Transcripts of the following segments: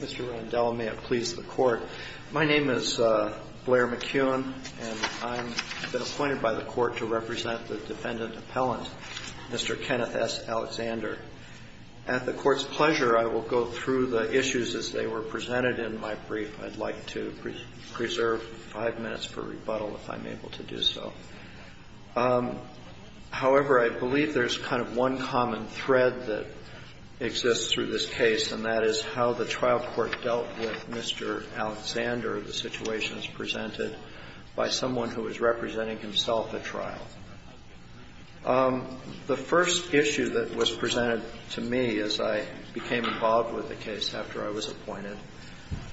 Mr. Randell, may it please the Court. My name is Blair McCune, and I've been appointed by the Court to represent the defendant appellant, Mr. Kenneth S. Alexander. At the Court's pleasure, I will go through the issues as they were presented in my brief. I'd like to preserve five minutes for rebuttal if I'm able to do so. However, I believe there's kind of one common thread that exists through this case, and that is how the trial court dealt with Mr. Alexander, the situation as presented by someone who is representing himself at trial. The first issue that was presented to me as I became involved with the case after I was appointed,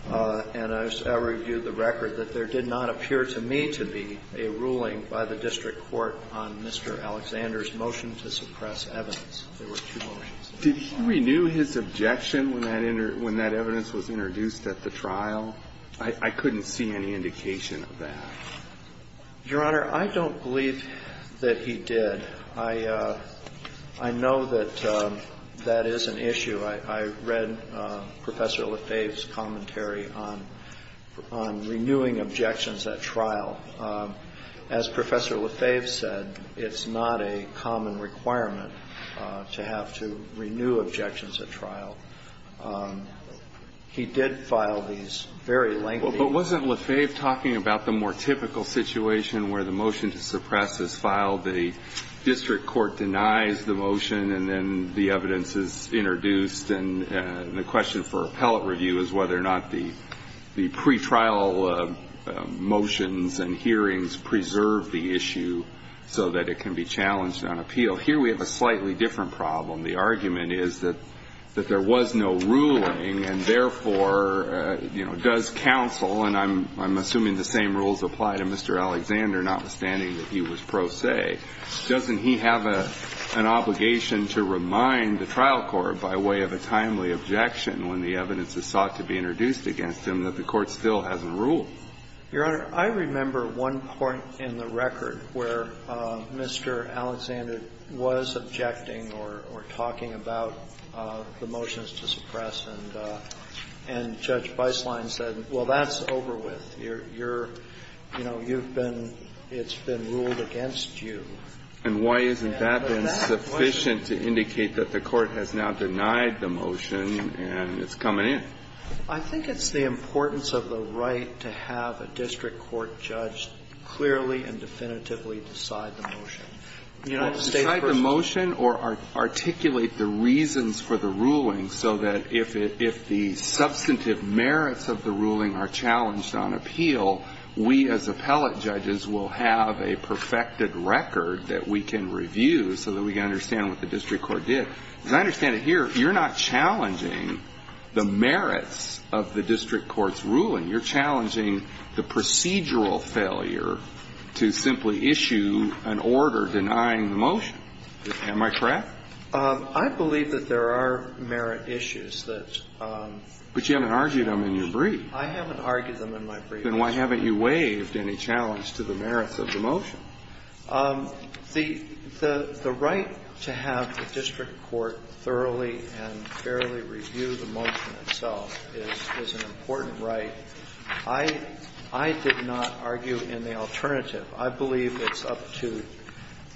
and I reviewed the record that there did not appear to me to be a ruling by the district court on Mr. Alexander's motion to suppress evidence. There were two motions. Did he renew his objection when that evidence was introduced at the trial? I couldn't see any indication of that. Your Honor, I don't believe that he did. I know that that is an issue. I read Professor Lefebvre's commentary on renewing objections at trial. As Professor Lefebvre said, it's not a common requirement to have to renew objections at trial. He did file these very lengthy. But wasn't Lefebvre talking about the more typical situation where the motion to suppress is filed, the district court denies the motion, and then the evidence is introduced, and the question for appellate review is whether or not the pretrial motions and hearings preserve the issue so that it can be challenged on appeal. Here we have a slightly different problem. The argument is that there was no ruling and, therefore, does counsel, and I'm assuming the same rules apply to Mr. Alexander, notwithstanding that he was pro se. Doesn't he have an obligation to remind the trial court by way of a timely objection when the evidence is sought to be introduced against him that the court still hasn't Your Honor, I remember one point in the record where Mr. Alexander was objecting or talking about the motions to suppress, and Judge Beisselein said, well, that's over with. You're, you know, you've been, it's been ruled against you. And why isn't that been sufficient to indicate that the court has now denied the motion and it's coming in? I think it's the importance of the right to have a district court judge clearly and definitively decide the motion. The United States person Decide the motion or articulate the reasons for the ruling so that if it, if the substantive merits of the ruling are challenged on appeal, we as appellate judges will have a perfected record that we can review so that we can understand what the district court did. And I understand it here. You're not challenging the merits of the district court's ruling. You're challenging the procedural failure to simply issue an order denying the motion. Am I correct? I believe that there are merit issues that But you haven't argued them in your brief. I haven't argued them in my brief. Then why haven't you waived any challenge to the merits of the motion? The right to have the district court thoroughly and fairly review the motion itself is an important right. I did not argue in the alternative. I believe it's up to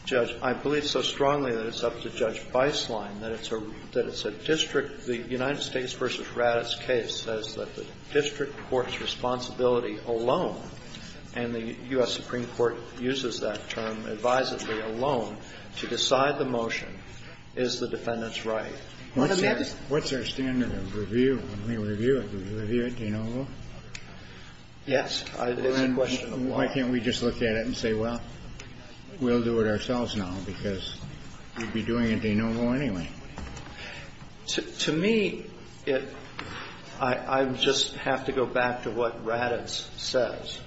Judge — I believe so strongly that it's up to Judge Beislein that it's a district — the United States v. Raddatz case says that the district court's responsibility alone, and the U.S. Supreme Court uses that term advisedly alone, to decide the motion, is the defendant's right. What's our standard of review when we review it? Do we review it de novo? Yes. It's a question of why. Why can't we just look at it and say, well, we'll do it ourselves now because we'd be doing it de novo anyway? To me, it — I just have to go back to what Raddatz says.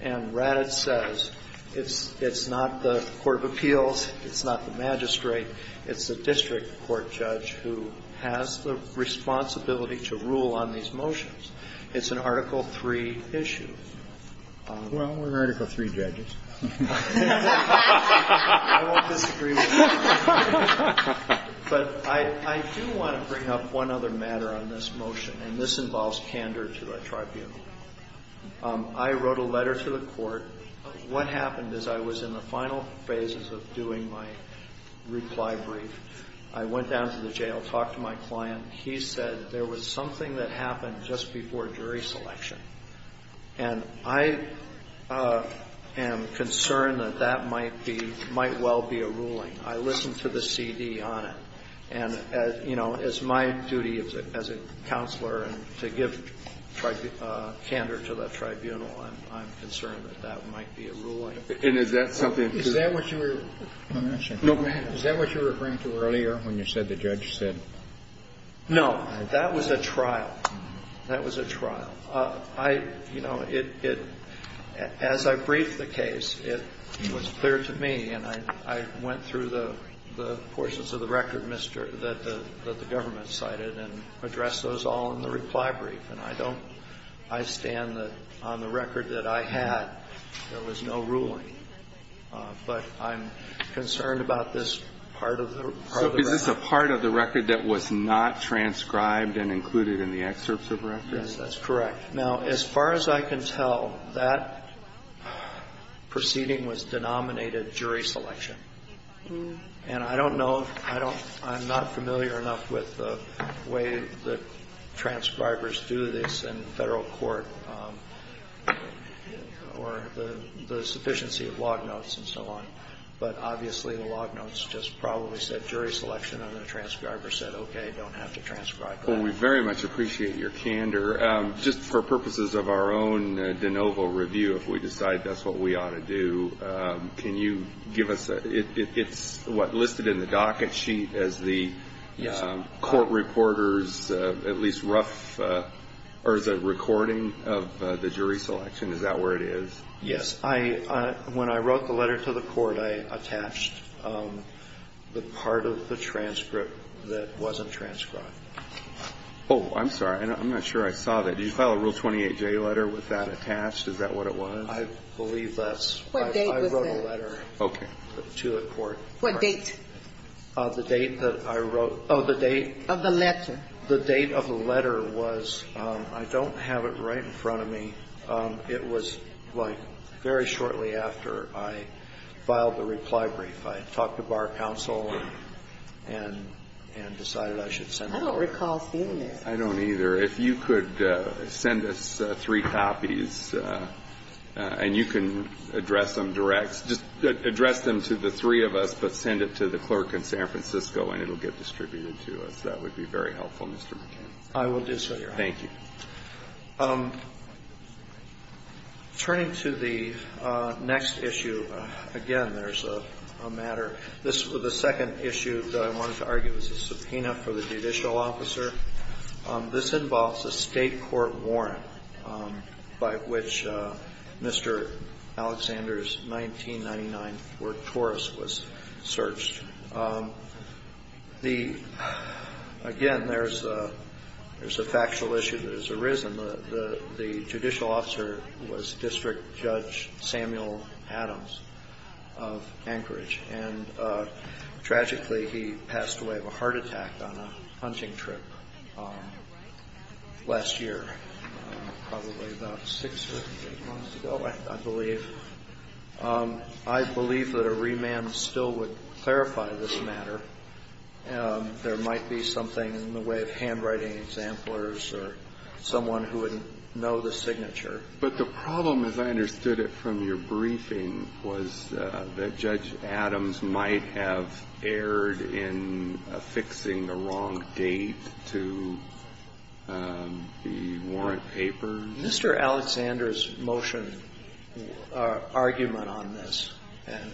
And Raddatz says it's not the court of appeals, it's not the magistrate, it's the district court judge who has the responsibility to rule on these motions. It's an Article III issue. Well, we're Article III judges. I won't disagree with that. But I do want to bring up one other matter on this motion, and this involves candor to the tribunal. I wrote a letter to the court. What happened is I was in the final phases of doing my reply brief. I went down to the jail, talked to my client. He said there was something that happened just before jury selection. And I am concerned that that might be — might well be a ruling. I listened to the CD on it. And, you know, it's my duty as a counselor to give candor to the tribunal. I'm concerned that that might be a ruling. And is that something — Is that what you were — No, go ahead. Is that what you were referring to earlier when you said the judge said — No, that was a trial. That was a trial. I — you know, it — as I briefed the case, it was clear to me, and I went through the portions of the record that the government cited and addressed those all in the reply brief. And I don't — I stand that on the record that I had, there was no ruling. But I'm concerned about this part of the record. So is this a part of the record that was not transcribed and included in the excerpts of record? Yes, that's correct. Now, as far as I can tell, that proceeding was denominated jury selection. And I don't know — I don't — I'm not familiar enough with the way that transcribers do this in Federal court or the sufficiency of log notes and so on. But obviously, the log notes just probably said jury selection, and the transcriber said, okay, don't have to transcribe that. Well, we very much appreciate your candor. Just for purposes of our own de novo review, if we decide that's what we ought to do, can you give us — it's what, listed in the docket sheet as the court reporter's at least rough — or as a recording of the jury selection? Is that where it is? Yes. When I wrote the letter to the court, I attached the part of the transcript that wasn't transcribed. Oh, I'm sorry. I'm not sure I saw that. Did you file a Rule 28J letter with that attached? Is that what it was? I believe that's — What date was that? I wrote a letter to the court. What date? The date that I wrote — oh, the date — Of the letter. The date of the letter was — I don't have it right in front of me. It was, like, very shortly after I filed the reply brief. I had talked to Bar Counsel and decided I should send it over. I don't recall seeing it. I don't either. If you could send us three copies, and you can address them direct — just address them to the three of us, but send it to the clerk in San Francisco, and it will get distributed to us. That would be very helpful, Mr. McCain. I will do so, Your Honor. Thank you. Turning to the next issue, again, there's a matter. This — the second issue that I wanted to argue is a subpoena for the judicial officer. This involves a State court warrant by which Mr. Alexander's 1999 work Taurus was searched. The — again, there's a factual issue that has arisen. The judicial officer was District Judge Samuel Adams of Anchorage. And, tragically, he passed away of a heart attack on a hunting trip last year, probably about six or eight months ago, I believe. I believe that a remand still would clarify this matter. There might be something in the way of handwriting examplars or someone who would know the signature. But the problem, as I understood it from your briefing, was that Judge Adams might have erred in affixing the wrong date to the warrant papers. Mr. Alexander's motion argument on this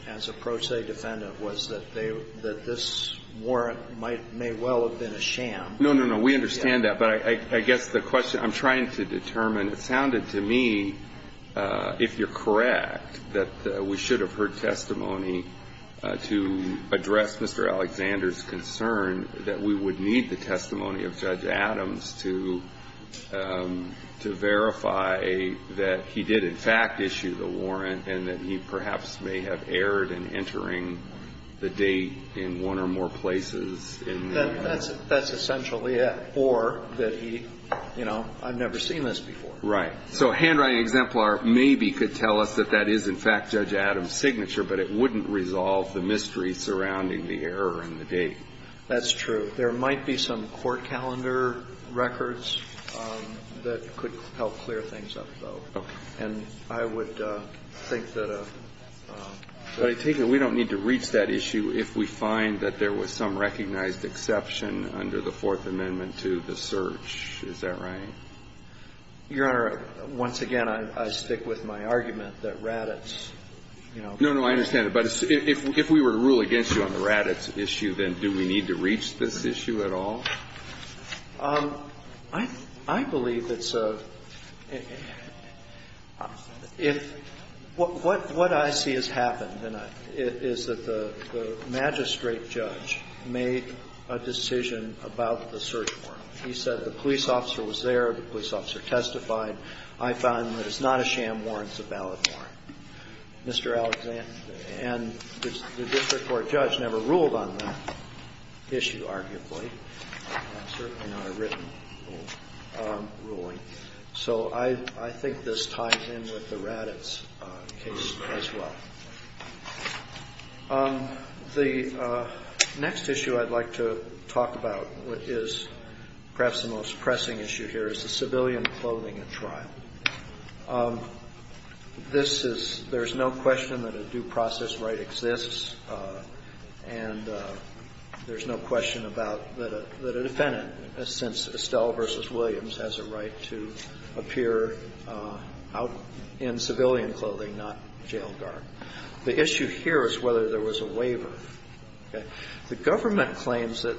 as a pro se defendant was that they — that this warrant might — may well have been a sham. No, no, no. We understand that. But I guess the question I'm trying to determine, it sounded to me, if you're correct, that we should have heard testimony to address Mr. Alexander's concern that we would need the testimony of Judge Adams to verify that he did, in fact, issue the warrant and that he perhaps may have erred in entering the date in one or more places in the — That's essentially it. Or that he — you know, I've never seen this before. Right. So a handwriting exemplar maybe could tell us that that is, in fact, Judge Adams' signature, but it wouldn't resolve the mystery surrounding the error in the date. That's true. There might be some court calendar records that could help clear things up, though. Okay. And I would think that a — But I take it we don't need to reach that issue if we find that there was some recognized exception under the Fourth Amendment to the search. Is that right? Your Honor, once again, I stick with my argument that Raddatz, you know — No, no, I understand it. But if we were to rule against you on the Raddatz issue, then do we need to reach this issue at all? I believe it's a — if — what I see has happened is that the magistrate judge made a decision about the search warrant. He said the police officer was there, the police officer testified. I found that it's not a sham warrant, it's a valid warrant. Mr. Alexander, and the district court judge never ruled on that issue, arguably. Certainly not a written ruling. So I think this ties in with the Raddatz case as well. The next issue I'd like to talk about, which is perhaps the most pressing issue here, is the civilian clothing at trial. This is — there's no question that a due process right exists, and there's no question about that a defendant, since Estelle v. Williams, has a right to appear out in civilian clothing, not jail guard. The issue here is whether there was a waiver. The government claims that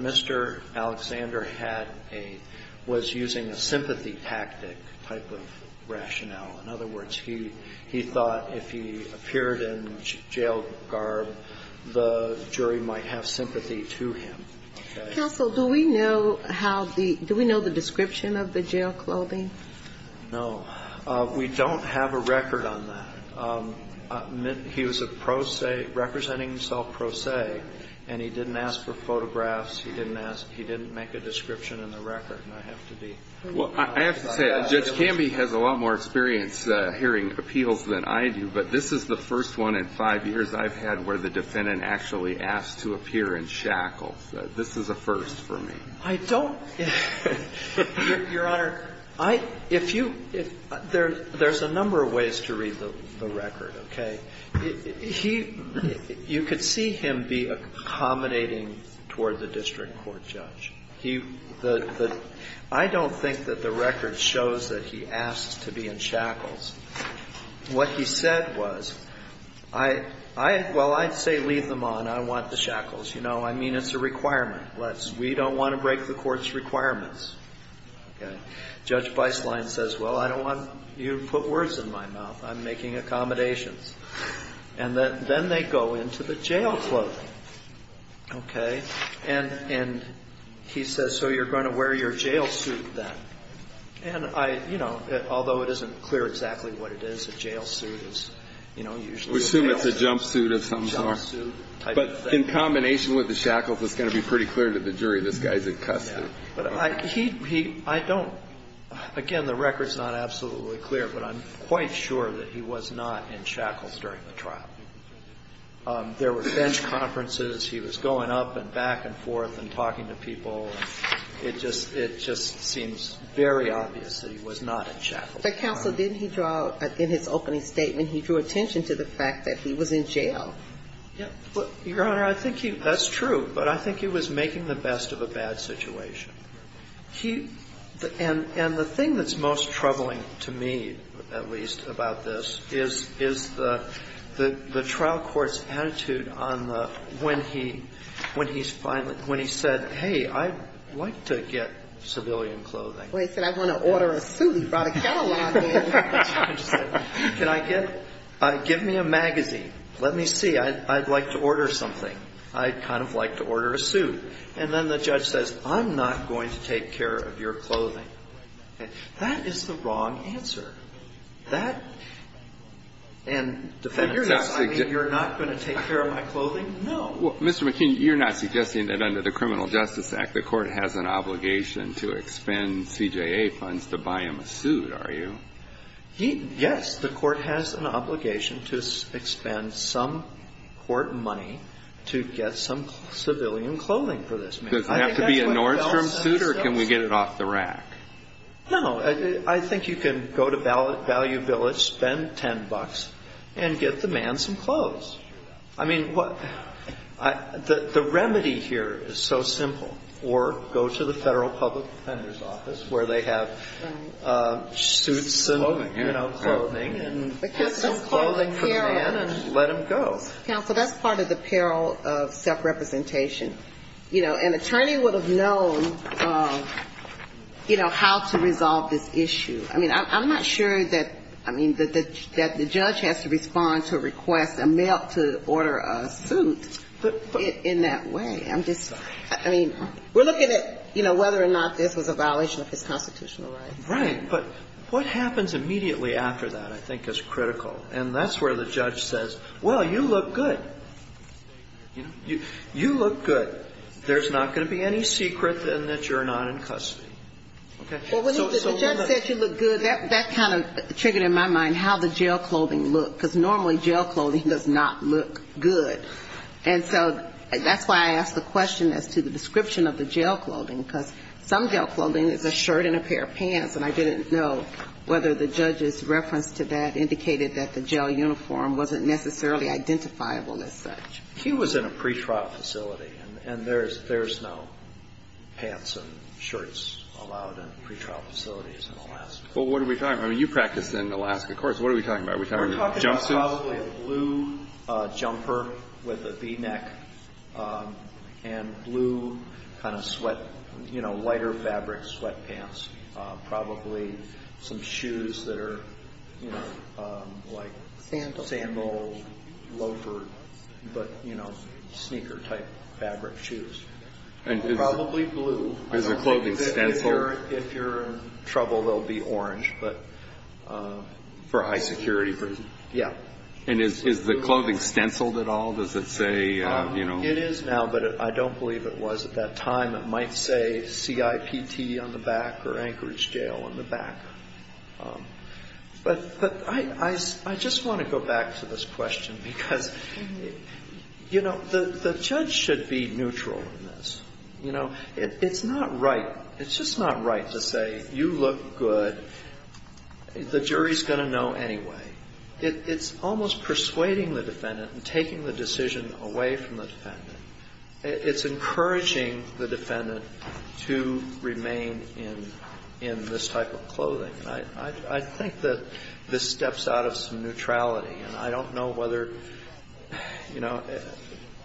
Mr. Alexander had a — was using a sympathy tactic type of rationale. In other words, he thought if he appeared in jail guard, the jury might have sympathy to him. Counsel, do we know how the — do we know the description of the jail clothing? No. We don't have a record on that. He was a pro se — representing himself pro se, and he didn't ask for photographs. He didn't ask — he didn't make a description in the record. And I have to be — Well, I have to say, Judge Canby has a lot more experience hearing appeals than I do, but this is the first one in five years I've had where the defendant actually asked to appear in shackles. This is a first for me. I don't — Your Honor, I — if you — there's a number of ways to read the record. Okay? He — you could see him be accommodating toward the district court judge. He — the — I don't think that the record shows that he asked to be in shackles. What he said was, I — I — well, I'd say leave them on. I want the shackles. You know, I mean, it's a requirement. Let's — we don't want to break the court's requirements. Okay? Judge Beislein says, well, I don't want you to put words in my mouth. I'm making accommodations. And then they go into the jail clothing. Okay? And — and he says, so you're going to wear your jail suit then. And I — you know, although it isn't clear exactly what it is, a jail suit is, you know, usually a jail suit. We assume it's a jumpsuit of some sort. Jumpsuit type of thing. But in combination with the shackles, it's going to be pretty clear to the jury this guy's in custody. Yeah. But I — he — I don't — again, the record's not absolutely clear, but I'm quite sure that he was not in shackles during the trial. There were bench conferences. He was going up and back and forth and talking to people. It just — it just seems very obvious that he was not in shackles. But Counsel, didn't he draw — in his opening statement, he drew attention to the fact that he was in jail. Yeah. Your Honor, I think he — that's true. But I think he was making the best of a bad situation. He — and the thing that's most troubling to me, at least, about this, is the trial court's attitude on the — when he — when he's finally — when he said, hey, I'd like to get civilian clothing. Well, he said, I want to order a suit. He brought a catalog in. He said, can I get — give me a magazine. Let me see. I'd like to order something. I'd kind of like to order a suit. And then the judge says, I'm not going to take care of your clothing. That is the wrong answer. That — and defendants — You're not — I mean, you're not going to take care of my clothing? No. Well, Mr. McKeon, you're not suggesting that under the Criminal Justice Act, the court has an obligation to expend CJA funds to buy him a suit, are you? Yes. The court has an obligation to expend some court money to get some civilian clothing for this man. Does it have to be a Nordstrom suit, or can we get it off the rack? No. I think you can go to Value Village, spend $10, and get the man some clothes. I mean, what — the remedy here is so simple. Or go to the Federal Public Defender's Office where they have suits and — Clothing. You know, clothing. And get some clothing for the man and let him go. Counsel, that's part of the peril of self-representation. You know, an attorney would have known, you know, how to resolve this issue. I mean, I'm not sure that — I mean, that the judge has to respond to a request, a mail to order a suit in that way. I'm just — I mean, we're looking at, you know, whether or not this was a violation of his constitutional rights. Right. But what happens immediately after that, I think, is critical. And that's where the judge says, well, you look good. You look good. There's not going to be any secret in that you're not in custody. Okay? Well, when the judge said you look good, that kind of triggered in my mind how the jail clothing looked, because normally jail clothing does not look good. And so that's why I asked the question as to the description of the jail clothing, because some jail clothing is a shirt and a pair of pants. And I didn't know whether the judge's reference to that indicated that the jail uniform wasn't necessarily identifiable as such. He was in a pretrial facility, and there's no pants and shirts allowed in pretrial facilities in Alaska. Well, what are we talking about? I mean, you practiced in Alaska. Of course, what are we talking about? Are we talking about jumpsuits? Probably a blue jumper with a v-neck and blue kind of sweat, you know, lighter fabric sweatpants. Probably some shoes that are, you know, like sandal loafers, but, you know, sneaker-type fabric shoes. Probably blue. Is the clothing stenciled? If you're in trouble, they'll be orange, but... For high security reasons. Yeah. And is the clothing stenciled at all? Does it say, you know... It is now, but I don't believe it was at that time. It might say CIPT on the back or Anchorage Jail on the back. But I just want to go back to this question because, you know, the judge should be neutral in this. You know, it's not right. It's just not right to say, you look good. The jury's going to know anyway. It's almost persuading the defendant and taking the decision away from the defendant. It's encouraging the defendant to remain in this type of clothing. I think that this steps out of some neutrality, and I don't know whether, you know,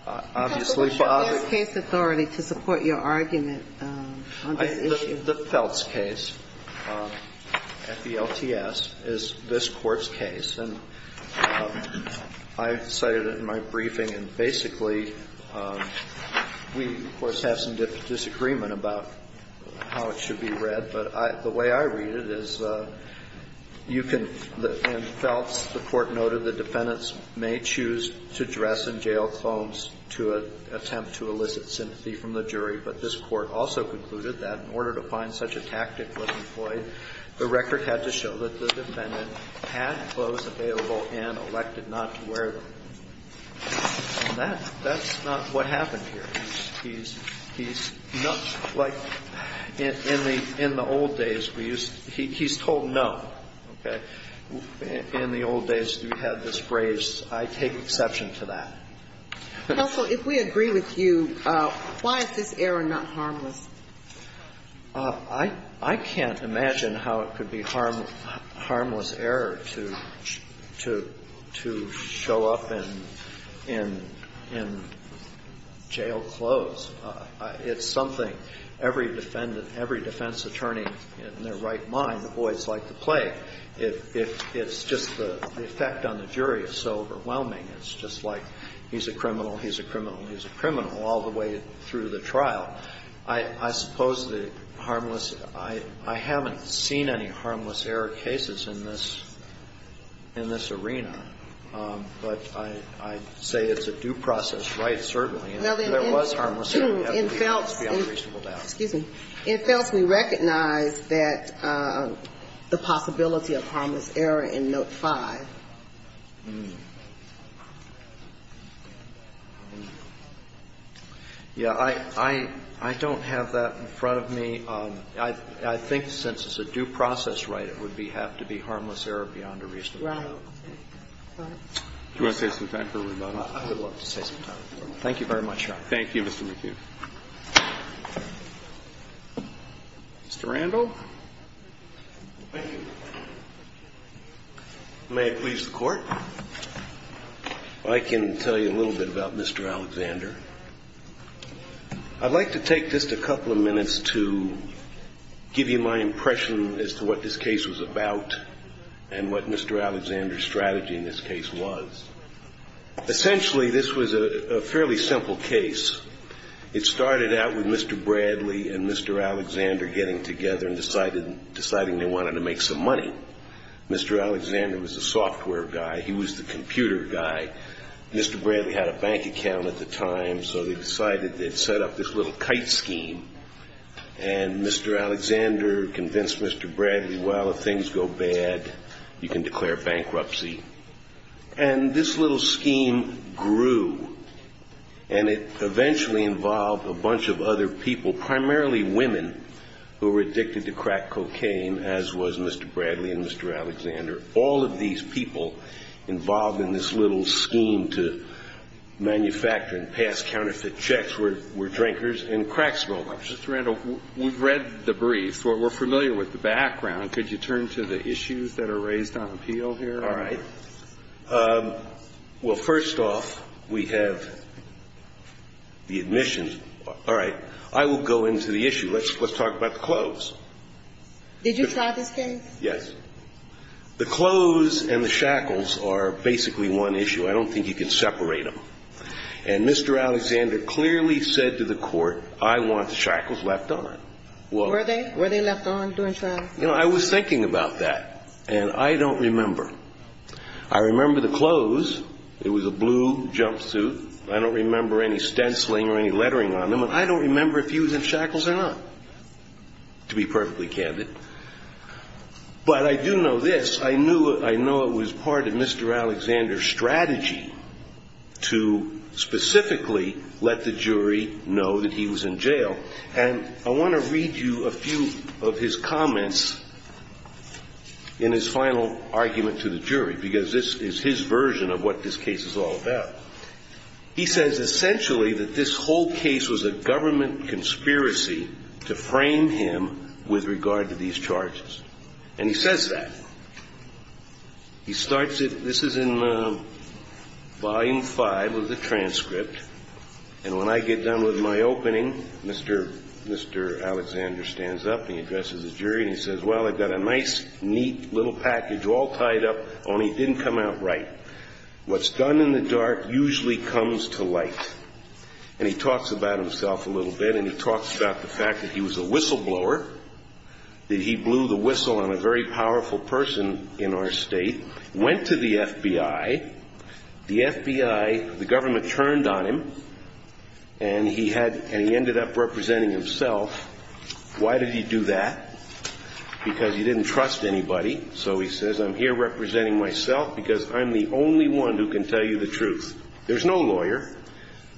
obviously... You have the Feltz case authority to support your argument on this issue. The Feltz case at the LTS is this Court's case. And I cited it in my briefing. And basically, we, of course, have some disagreement about how it should be read. But the way I read it is you can... In Feltz, the Court noted the defendants may choose to dress in jail clothes to attempt to elicit sympathy from the jury. But this Court also concluded that in order to find such a tactic was employed, the record had to show that the defendant had clothes available and elected not to wear them. And that's not what happened here. He's not like in the old days. He's told no. Okay? In the old days, we had this phrase, I take exception to that. Counsel, if we agree with you, why is this error not harmless? I can't imagine how it could be harmless error to show up in jail clothes. It's something every defendant, every defense attorney, in their right mind, the boys like to play. It's just the effect on the jury is so overwhelming. It's just like he's a criminal, he's a criminal, he's a criminal all the way through the trial. I suppose the harmless, I haven't seen any harmless error cases in this arena. But I'd say it's a due process right, certainly. If there was harmless error, that would be unreasonable doubt. Excuse me. It fails to be recognized that the possibility of harmless error in Note 5. Yeah. I don't have that in front of me. I think since it's a due process right, it would have to be harmless error beyond a reasonable doubt. Right. Do you want to say something? I would love to say something. Thank you very much, Your Honor. Thank you, Mr. McHugh. Mr. Randall. Thank you. May it please the Court. I can tell you a little bit about Mr. Alexander. I'd like to take just a couple of minutes to give you my impression as to what this case was about and what Mr. Alexander's strategy in this case was. Essentially, this was a fairly simple case. It started out with Mr. Bradley and Mr. Alexander getting together and deciding they wanted to make some money. Mr. Alexander was a software guy. He was the computer guy. Mr. Bradley had a bank account at the time, so they decided they'd set up this little kite scheme. And Mr. Alexander convinced Mr. Bradley, well, if things go bad, you can declare bankruptcy. And this little scheme grew. And it eventually involved a bunch of other people, primarily women, who were addicted to crack cocaine, as was Mr. Bradley and Mr. Alexander. All of these people involved in this little scheme to manufacture and pass counterfeit checks were drinkers and crack smokers. Mr. Randall, we've read the brief. We're familiar with the background. Could you turn to the issues that are raised on appeal here? All right. Well, first off, we have the admissions. All right. I will go into the issue. Let's talk about the clothes. Did you try this case? Yes. The clothes and the shackles are basically one issue. I don't think you can separate them. And Mr. Alexander clearly said to the Court, I want shackles left on. Were they? Were they left on during trial? You know, I was thinking about that, and I don't remember. I remember the clothes. It was a blue jumpsuit. I don't remember any stenciling or any lettering on them. And I don't remember if he was in shackles or not, to be perfectly candid. But I do know this. I know it was part of Mr. Alexander's strategy to specifically let the jury know that he was in jail. And I want to read you a few of his comments in his final argument to the jury, because this is his version of what this case is all about. He says essentially that this whole case was a government conspiracy to frame him with regard to these charges. And he says that. He starts it. This is in Volume 5 of the transcript. And when I get done with my opening, Mr. Alexander stands up, and he addresses the jury, and he says, Well, I've got a nice, neat little package all tied up, only it didn't come out right. What's done in the dark usually comes to light. And he talks about himself a little bit, and he talks about the fact that he was a whistleblower, that he blew the whistle on a very powerful person in our state, went to the FBI. The FBI, the government turned on him, and he ended up representing himself. Why did he do that? Because he didn't trust anybody. So he says, I'm here representing myself because I'm the only one who can tell you the truth. There's no lawyer.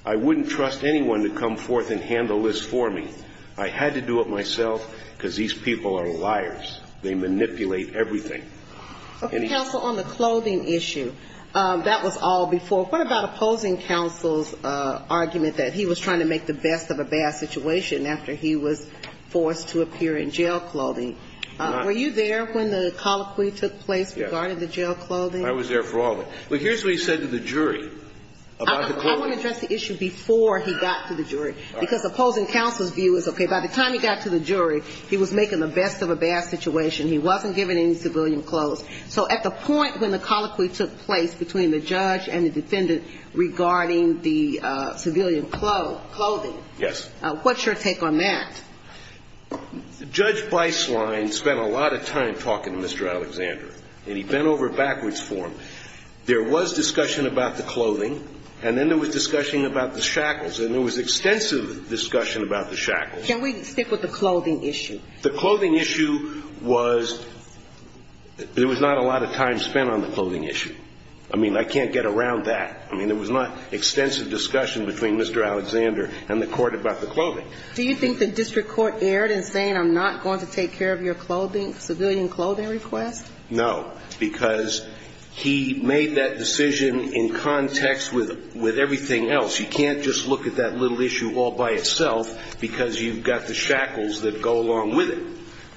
I wouldn't trust anyone to come forth and handle this for me. I had to do it myself because these people are liars. They manipulate everything. Okay, counsel, on the clothing issue, that was all before. What about opposing counsel's argument that he was trying to make the best of a bad situation after he was forced to appear in jail clothing? Were you there when the colloquy took place regarding the jail clothing? I was there for all of it. But here's what he said to the jury about the clothing. I want to address the issue before he got to the jury, because opposing counsel's view is, Okay, by the time he got to the jury, he was making the best of a bad situation. He wasn't giving any civilian clothes. So at the point when the colloquy took place between the judge and the defendant regarding the civilian clothing, what's your take on that? Judge Beislein spent a lot of time talking to Mr. Alexander, and he bent over backwards for him. There was discussion about the clothing, and then there was discussion about the shackles, and there was extensive discussion about the shackles. Can we stick with the clothing issue? The clothing issue was there was not a lot of time spent on the clothing issue. I mean, I can't get around that. I mean, there was not extensive discussion between Mr. Alexander and the court about the clothing. Do you think the district court erred in saying, I'm not going to take care of your civilian clothing request? No, because he made that decision in context with everything else. You can't just look at that little issue all by itself, because you've got the shackles that go along with it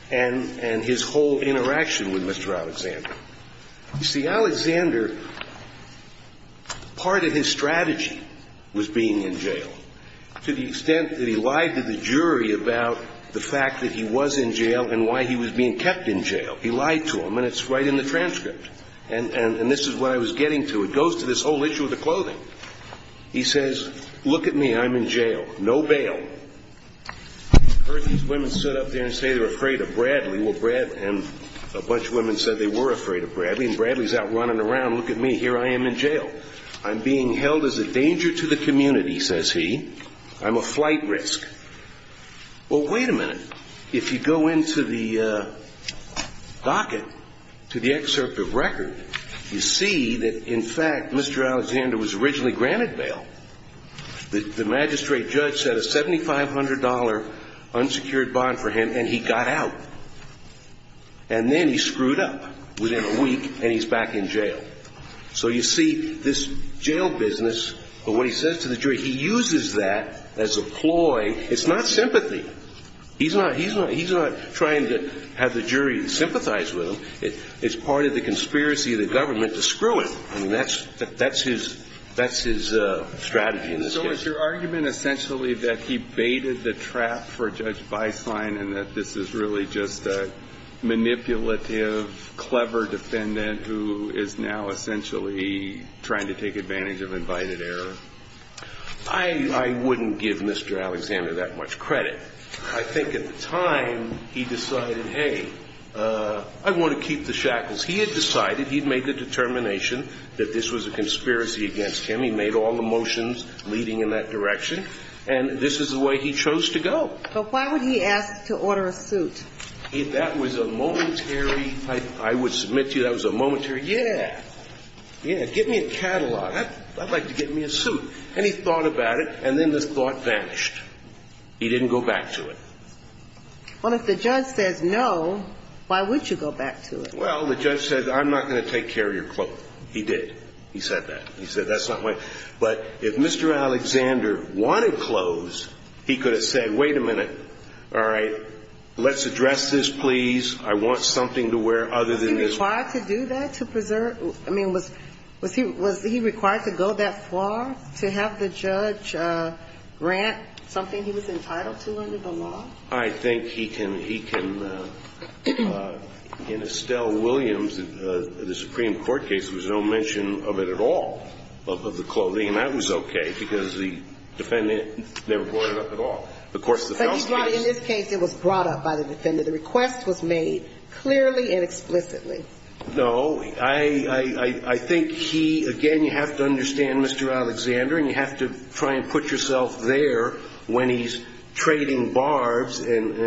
and his whole interaction with Mr. Alexander. You see, Alexander, part of his strategy was being in jail, to the extent that he lied to the jury about the fact that he was in jail and why he was being kept in jail. He lied to them, and it's right in the transcript. And this is what I was getting to. It goes to this whole issue of the clothing. He says, look at me. I'm in jail. No bail. I heard these women stood up there and say they were afraid of Bradley. And a bunch of women said they were afraid of Bradley. And Bradley's out running around. Look at me. Here I am in jail. I'm being held as a danger to the community, says he. I'm a flight risk. Well, wait a minute. If you go into the docket to the excerpt of record, you see that, in fact, Mr. Alexander was originally granted bail. The magistrate judge set a $7,500 unsecured bond for him, and he got out. And then he screwed up within a week, and he's back in jail. So you see, this jail business, what he says to the jury, he uses that as a ploy. It's not sympathy. He's not trying to have the jury sympathize with him. It's part of the conspiracy of the government to screw him. I mean, that's his strategy in this case. So is your argument essentially that he baited the trap for Judge Beislein and that this is really just a manipulative, clever defendant who is now essentially trying to take advantage of invited error? I wouldn't give Mr. Alexander that much credit. I think at the time he decided, hey, I want to keep the shackles. He had decided. He had made the determination that this was a conspiracy against him. He made all the motions leading in that direction. And this is the way he chose to go. But why would he ask to order a suit? That was a momentary – I would submit to you that was a momentary, yeah, yeah, give me a catalog. I'd like to get me a suit. And he thought about it, and then this thought vanished. He didn't go back to it. Well, if the judge says no, why would you go back to it? Well, the judge said, I'm not going to take care of your clothes. He did. He said that. He said that's not why. But if Mr. Alexander wanted clothes, he could have said, wait a minute, all right, let's address this, please. I want something to wear other than this. Was he required to do that to preserve – I mean, was he required to go that far to have the judge grant something he was entitled to under the law? I think he can – in Estelle Williams, the Supreme Court case, there was no mention of it at all, of the clothing. And that was okay, because the defendant never brought it up at all. Of course, the felon's case – But in this case, it was brought up by the defendant. The request was made clearly and explicitly. No. I think he – again, you have to understand Mr. Alexander, and you have to try and put yourself there when he's trading barbs and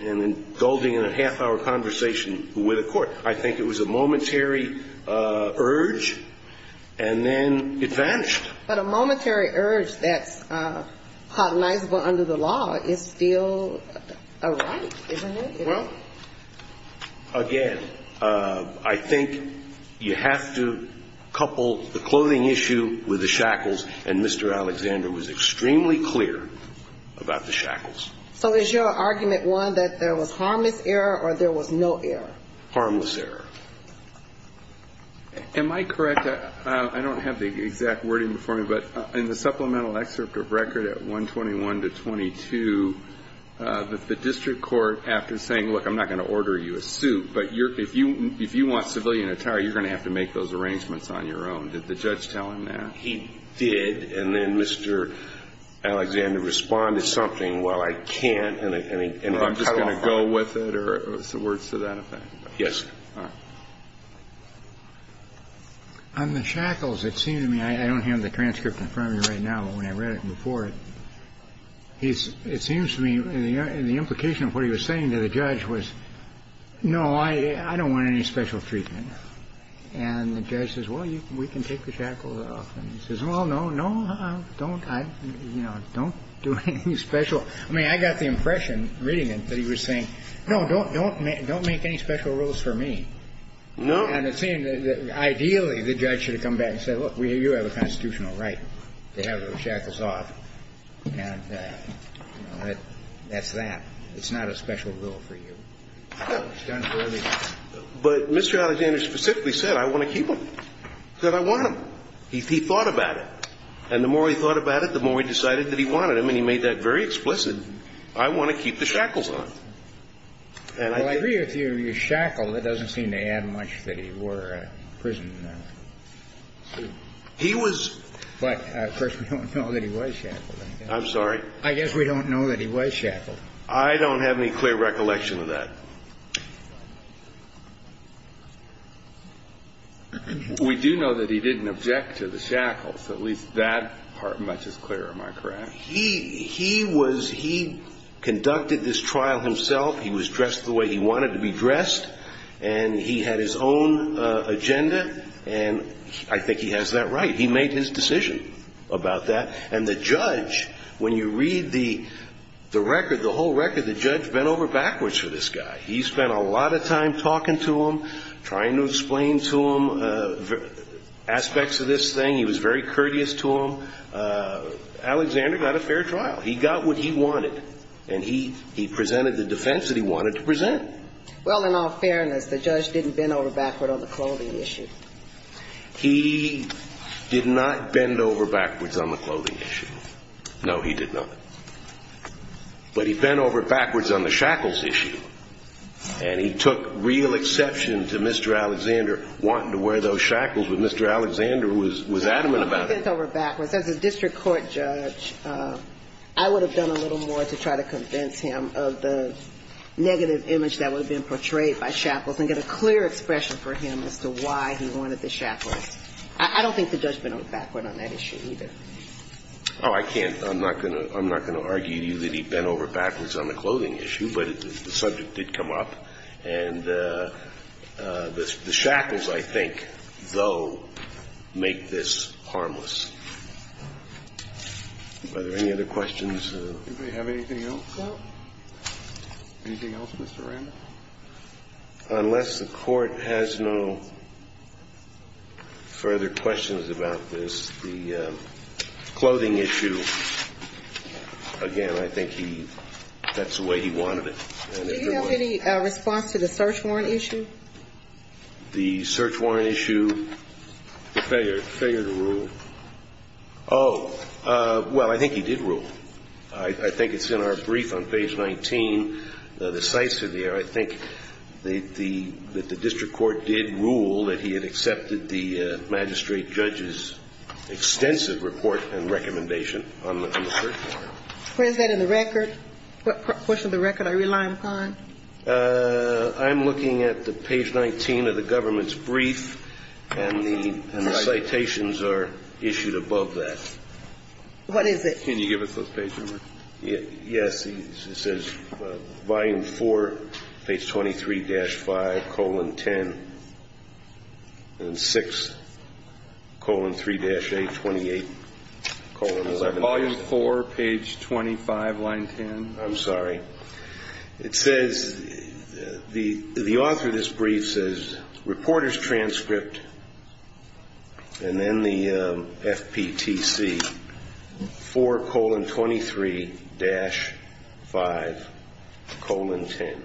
indulging in a half-hour conversation with a court. I think it was a momentary urge, and then it vanished. But a momentary urge that's cognizable under the law is still a right, isn't it? Well, again, I think you have to couple the clothing issue with the shackles, and Mr. Alexander was extremely clear about the shackles. So is your argument, one, that there was harmless error, or there was no error? Harmless error. Am I correct? I don't have the exact wording before me, but in the supplemental excerpt of record at 121 to 22, the district court, after saying, look, I'm not going to order you a suit, but if you want civilian attire, you're going to have to make those arrangements on your own. Did the judge tell him that? He did. And then Mr. Alexander responded something, well, I can't, and I'm just going to go with it, or words to that effect. Yes. All right. On the shackles, it seemed to me – I don't have the transcript in front of me right now, but when I read it before, it seems to me the implication of what he was saying to the judge was, no, I don't want any special treatment. And the judge says, well, we can take the shackles off. And he says, well, no, no, don't do anything special. I mean, I got the impression reading it that he was saying, no, don't make any special rules for me. And it seemed that ideally the judge should have come back and said, look, you have a constitutional right to have the shackles off. And, you know, that's that. It's not a special rule for you. No. But Mr. Alexander specifically said, I want to keep them. He said, I want them. He thought about it. And the more he thought about it, the more he decided that he wanted them, and he made that very explicit. I want to keep the shackles on. Well, I agree with you. Your shackle, that doesn't seem to add much that he wore a prison suit. He was – But, of course, we don't know that he was shackled. I'm sorry? I guess we don't know that he was shackled. I don't have any clear recollection of that. We do know that he didn't object to the shackles, at least that much is clear. Am I correct? He was – he conducted this trial himself. He was dressed the way he wanted to be dressed. And he had his own agenda. And I think he has that right. He made his decision about that. And the judge, when you read the record, the whole record, the judge bent over backwards for this guy. He spent a lot of time talking to him, trying to explain to him aspects of this thing. He was very courteous to him. Alexander got a fair trial. He got what he wanted. And he presented the defense that he wanted to present. Well, in all fairness, the judge didn't bend over backward on the clothing issue. He did not bend over backwards on the clothing issue. No, he did not. But he bent over backwards on the shackles issue. And he took real exception to Mr. Alexander wanting to wear those shackles, but Mr. Alexander was adamant about it. He bent over backwards. As a district court judge, I would have done a little more to try to convince him of the negative image that would have been portrayed by shackles and get a clear expression for him as to why he wanted the shackles. I don't think the judge bent over backwards on that issue either. Oh, I can't. I'm not going to argue to you that he bent over backwards on the clothing issue, but the subject did come up. And the shackles, I think, though, make this harmless. Are there any other questions? Does anybody have anything else? No. Anything else, Mr. Randall? Unless the Court has no further questions about this, the clothing issue, again, I think he that's the way he wanted it. Did he have any response to the search warrant issue? The search warrant issue, the failure to rule. Oh, well, I think he did rule. I think it's in our brief on page 19. The sites are there. I think that the district court did rule that he had accepted the magistrate judge's extensive report and recommendation on the search warrant. What is that in the record? What portion of the record are you relying upon? I'm looking at the page 19 of the government's brief, and the citations are issued above that. What is it? Can you give us the page number? Yes. It says volume 4, page 23-5, colon 10, and 6, colon 3-8, 28, colon 11. Is that volume 4, page 25, line 10? I'm sorry. It says the author of this brief says reporter's transcript, and then the FPTC, 4, colon 23-5, colon 10,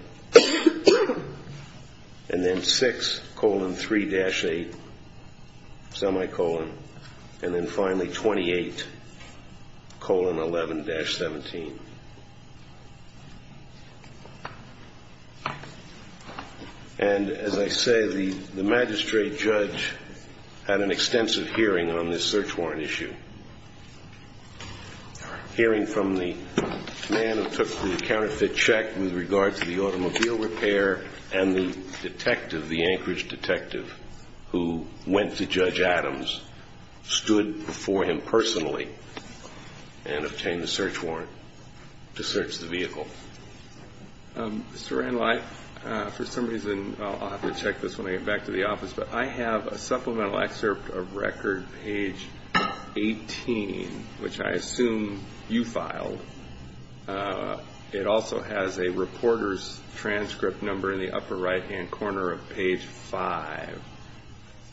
and then 6, colon 3-8, semicolon, and then finally 28, colon 11-17. And as I say, the magistrate judge had an extensive hearing on this search warrant issue. Hearing from the man who took the counterfeit check with regard to the automobile repair and the detective, the Anchorage detective, who went to Judge Adams, stood before him personally and obtained the search warrant to search the vehicle. Mr. Randleif, for some reason, I'll have to check this when I get back to the office, but I have a supplemental excerpt of record, page 18, which I assume you filed. It also has a reporter's transcript number in the upper right-hand corner of page 5.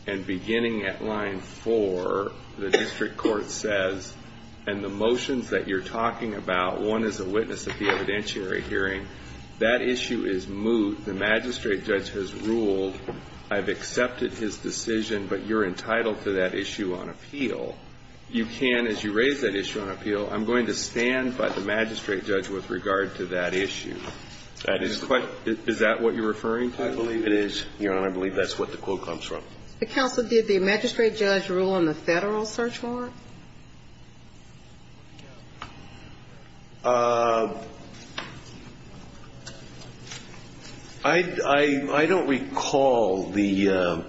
And beginning at line 4, the district court says, and the motions that you're talking about, one is a witness at the evidentiary hearing. That issue is moved. The magistrate judge has ruled, I've accepted his decision, but you're entitled to that issue on appeal. You can, as you raise that issue on appeal, I'm going to stand by the magistrate judge with regard to that issue. Is that what you're referring to? I believe it is, Your Honor. I believe that's what the quote comes from. Counsel, did the magistrate judge rule on the Federal search warrant? I don't recall the ‑‑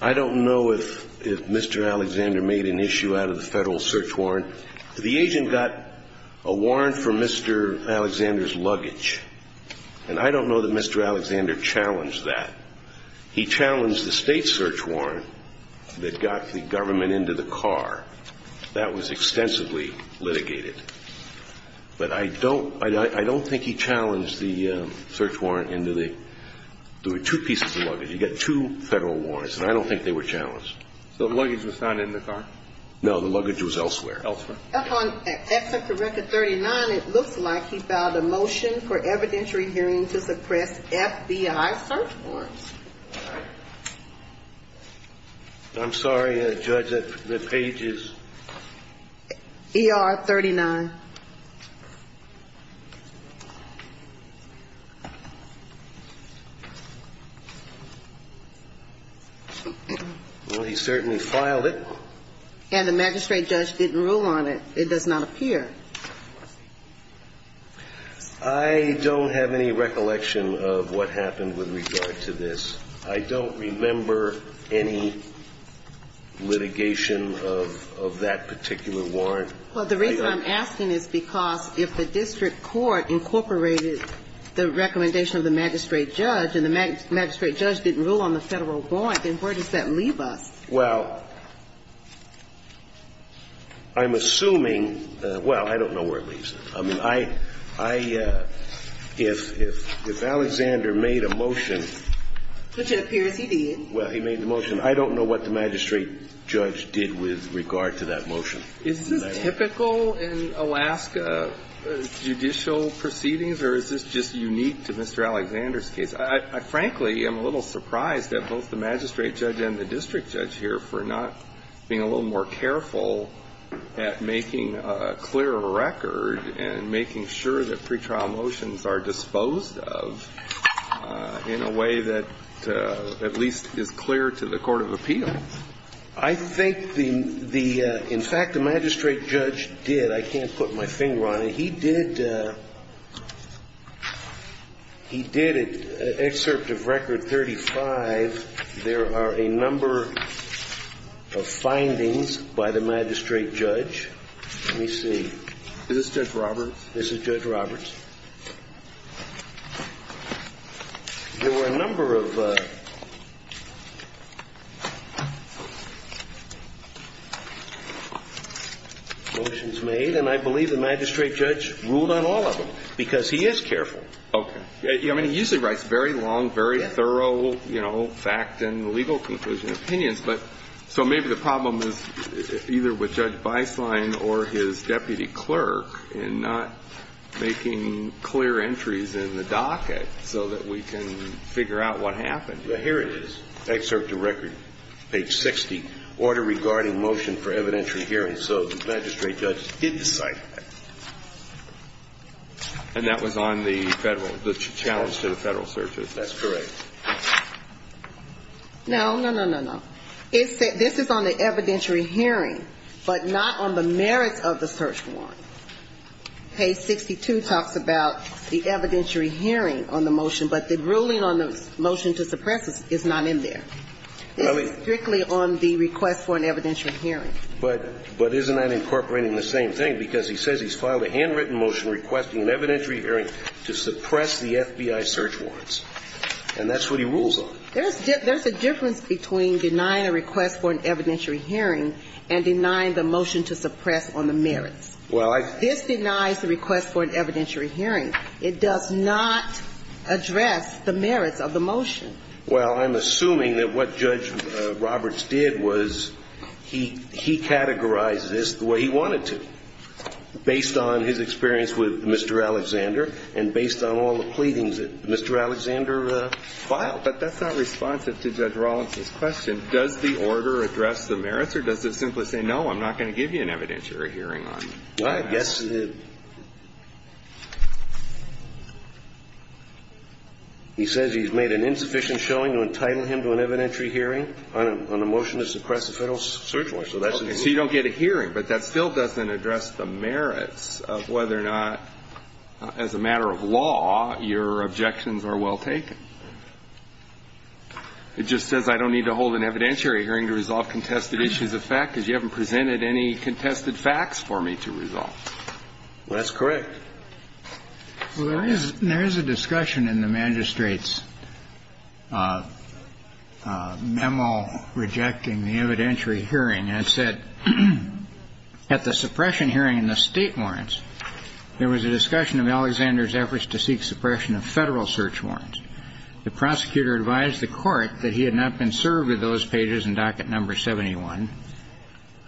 I don't know if Mr. Alexander made an issue out of the Federal search warrant. The agent got a warrant for Mr. Alexander's luggage, and I don't know that Mr. Alexander challenged that. He challenged the state search warrant that got the government into the car. That was extensively litigated. But I don't ‑‑ I don't think he challenged the search warrant into the ‑‑ there were two pieces of luggage. He got two Federal warrants, and I don't think they were challenged. So the luggage was not in the car? No, the luggage was elsewhere. Elsewhere. Upon exit to record 39, it looks like he filed a motion for evidentiary hearing to suppress FBI search warrants. I'm sorry, Judge, the page is ‑‑ ER 39. Well, he certainly filed it. And the magistrate judge didn't rule on it. It does not appear. I don't have any recollection of what happened with regard to this. I don't remember any litigation of that particular warrant. Well, the reason I'm asking is because if the district court incorporated the recommendation of the magistrate judge and the magistrate judge didn't rule on the Federal warrant, then where does that leave us? Well, I'm assuming ‑‑ well, I don't know where it leaves us. I mean, I ‑‑ if Alexander made a motion ‑‑ Which it appears he did. Well, he made the motion. I don't know what the magistrate judge did with regard to that motion. Is this typical in Alaska judicial proceedings, or is this just unique to Mr. Alexander's case? I frankly am a little surprised at both the magistrate judge and the district judge here for not being a little more careful at making a clearer record and making sure that pretrial motions are disposed of in a way that at least is clear to the court of appeal. I think the ‑‑ in fact, the magistrate judge did. I can't put my finger on it. He did ‑‑ he did an excerpt of Record 35. There are a number of findings by the magistrate judge. Let me see. Is this Judge Roberts? This is Judge Roberts. There were a number of motions made, and I believe the magistrate judge ruled on all of them, because he is careful. Okay. I mean, he usually writes very long, very thorough, you know, fact and legal conclusion opinions, but so maybe the problem is either with Judge Beislein or his deputy clerk in not making clear entries in the docket so that we can figure out what happened. Well, here it is. Excerpt of Record, page 60, order regarding motion for evidentiary hearing. So the magistrate judge did decide. And that was on the Federal ‑‑ the challenge to the Federal search warrant. That's correct. No, no, no, no, no. This is on the evidentiary hearing, but not on the merits of the search warrant. Page 62 talks about the evidentiary hearing on the motion, but the ruling on the motion to suppress it is not in there. This is strictly on the request for an evidentiary hearing. But isn't that incorporating the same thing? Because he says he's filed a handwritten motion requesting an evidentiary hearing to suppress the FBI search warrants. And that's what he rules on. There's a difference between denying a request for an evidentiary hearing and denying the motion to suppress on the merits. Well, I ‑‑ This denies the request for an evidentiary hearing. It does not address the merits of the motion. Well, I'm assuming that what Judge Roberts did was he categorized this the way he wanted to, based on his experience with Mr. Alexander and based on all the pleadings that Mr. Alexander filed. But that's not responsive to Judge Rollins's question. Does the order address the merits, or does it simply say, no, I'm not going to give you an evidentiary hearing on it? Well, I guess the ‑‑ He says he's made an insufficient showing to entitle him to an evidentiary hearing on a motion to suppress the Federal search warrant. So you don't get a hearing. But that still doesn't address the merits of whether or not, as a matter of law, your objections are well taken. It just says I don't need to hold an evidentiary hearing to resolve contested issues of fact because you haven't presented any contested facts for me to resolve. That's correct. Well, there is ‑‑ there is a discussion in the magistrate's memo rejecting the evidentiary hearing. And it said, at the suppression hearing in the State warrants, there was a discussion of Alexander's efforts to seek suppression of Federal search warrants. The prosecutor advised the Court that he had not been served with those pages in docket number 71.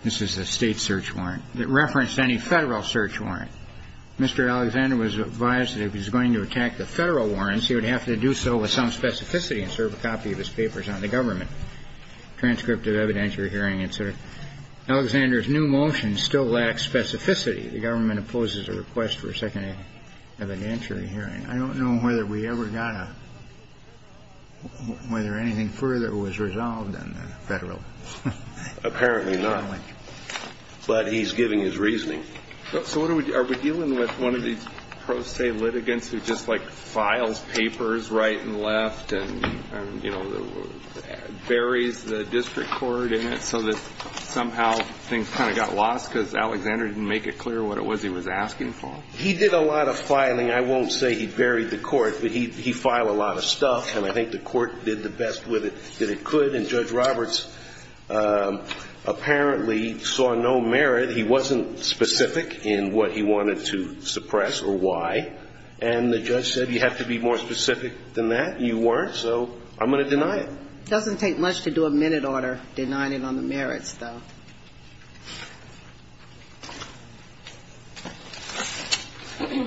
This is the State search warrant. It referenced any Federal search warrant. Mr. Alexander was advised that if he was going to attack the Federal warrants, he would have to do so with some specificity and serve a copy of his papers on the government, transcript of evidentiary hearing, et cetera. Alexander's new motion still lacks specificity. The government opposes a request for a second evidentiary hearing. I don't know whether we ever got a ‑‑ whether anything further was resolved on the Federal ‑‑ Apparently not. But he's giving his reasoning. So what are we ‑‑ are we dealing with one of these pro se litigants who just, like, files papers right and left and, you know, buries the district court in it so that somehow things kind of got lost because Alexander didn't make it clear what it was he was asking for? He did a lot of filing. I won't say he buried the court, but he filed a lot of stuff. And I think the Court did the best with it that it could. And Judge Roberts apparently saw no merit. He said he wasn't specific in what he wanted to suppress or why. And the judge said you have to be more specific than that. You weren't. So I'm going to deny it. It doesn't take much to do a minute order denying it on the merits, though.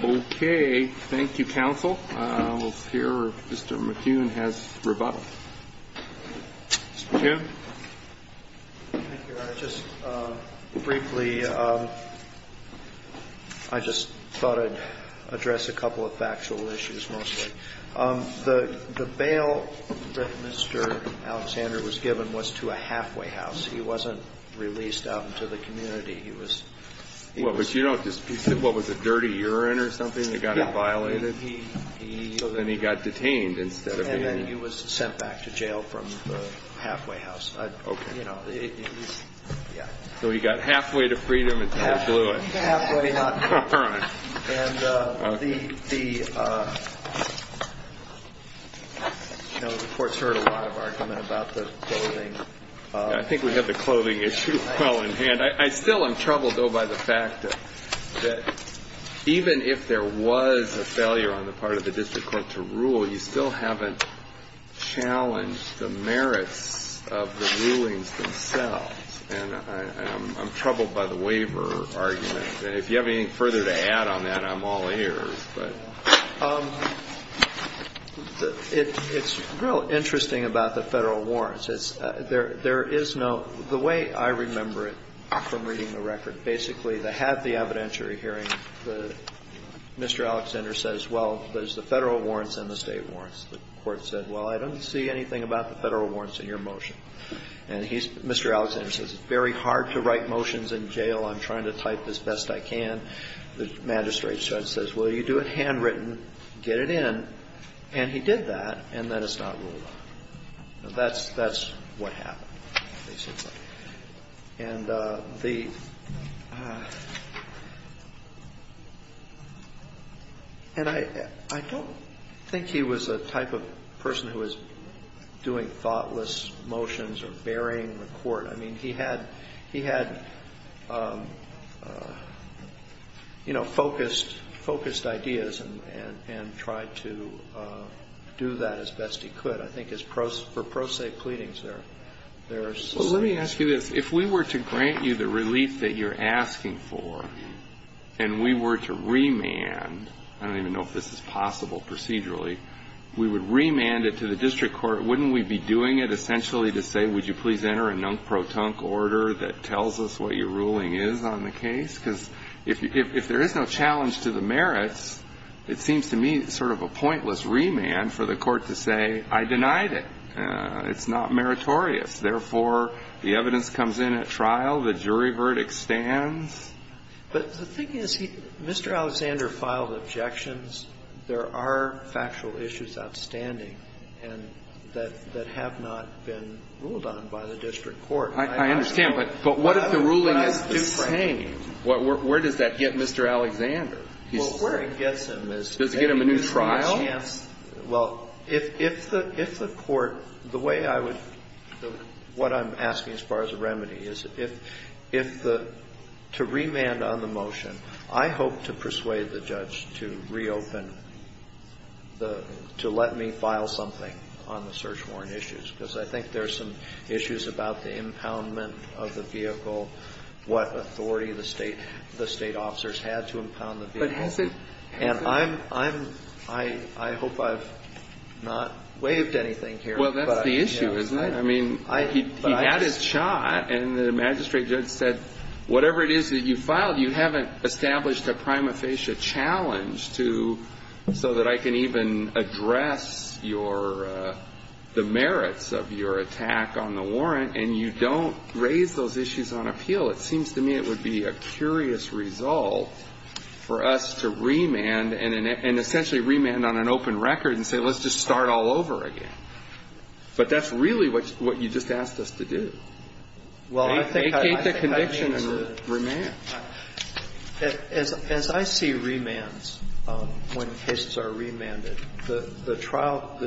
Okay. Thank you, counsel. We'll hear if Mr. McKeown has rebuttal. Mr. McKeown. Thank you, Your Honor. Just briefly, I just thought I'd address a couple of factual issues mostly. The bail that Mr. Alexander was given was to a halfway house. He wasn't released out into the community. He was ‑‑ Well, but you don't dispute what was it, dirty urine or something that got him violated? Yeah. Then he got detained instead of being ‑‑ And then he was sent back to jail from the halfway house. Okay. You know, it was, yeah. So he got halfway to freedom until they blew it. Halfway, not ‑‑ All right. And the, you know, the Court's heard a lot of argument about the clothing. I think we have the clothing issue well in hand. I still am troubled, though, by the fact that even if there was a failure on the part of the district court to rule, you still haven't challenged the merits of the rulings themselves. And I'm troubled by the waiver argument. And if you have anything further to add on that, I'm all ears. But it's real interesting about the Federal warrants. There is no ‑‑ the way I remember it from reading the record, basically they have the evidentiary hearing. And Mr. Alexander says, well, there's the Federal warrants and the State warrants. The Court said, well, I don't see anything about the Federal warrants in your motion. And Mr. Alexander says, it's very hard to write motions in jail. I'm trying to type as best I can. The magistrate judge says, well, you do it handwritten, get it in. And he did that, and then it's not ruled on. That's what happened, basically. And the ‑‑ and I don't think he was the type of person who was doing thoughtless motions or burying the court. I mean, he had, you know, focused ideas and tried to do that as best he could. I think for pro se pleadings, there's ‑‑ Well, let me ask you this. If we were to grant you the relief that you're asking for, and we were to remand, I don't even know if this is possible procedurally, we would remand it to the district court, wouldn't we be doing it essentially to say, would you please enter a nunk protunk order that tells us what your ruling is on the case? Because if there is no challenge to the merits, it seems to me sort of a pointless remand for the court to say, I denied it, it's not meritorious, therefore the evidence comes in at trial, the jury verdict stands. But the thing is, Mr. Alexander filed objections. There are factual issues outstanding that have not been ruled on by the district court. I understand. But what if the ruling is the same? Where does that get Mr. Alexander? Well, where it gets him is ‑‑ Does it get him a new trial? Well, if the court, the way I would, what I'm asking as far as a remedy is if the, to remand on the motion, I hope to persuade the judge to reopen, to let me file something on the search warrant issues, because I think there's some issues about the impoundment of the vehicle, what authority the State officers had to impound the vehicle. But has it ‑‑ And I'm, I hope I've not waived anything here. Well, that's the issue, isn't it? I mean, he had his shot, and the magistrate judge said, whatever it is that you filed, you haven't established a prima facie challenge to, so that I can even address your, the merits of your attack on the warrant, and you don't raise those issues on appeal. It seems to me it would be a curious result for us to remand and essentially remand on an open record and say, let's just start all over again. But that's really what you just asked us to do. Well, I think ‑‑ Vacate the conviction and remand. As I see remands when cases are remanded, the trial,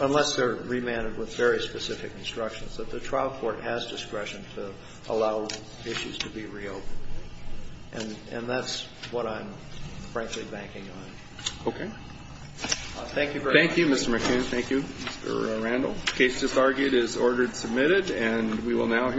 unless they're remanded instructions, that the trial court has discretion to allow issues to be reopened. And that's what I'm frankly banking on. Okay. Thank you very much. Thank you, Mr. McHugh. Thank you, Mr. Randall. The case just argued is ordered submitted, and we will now hear ‑‑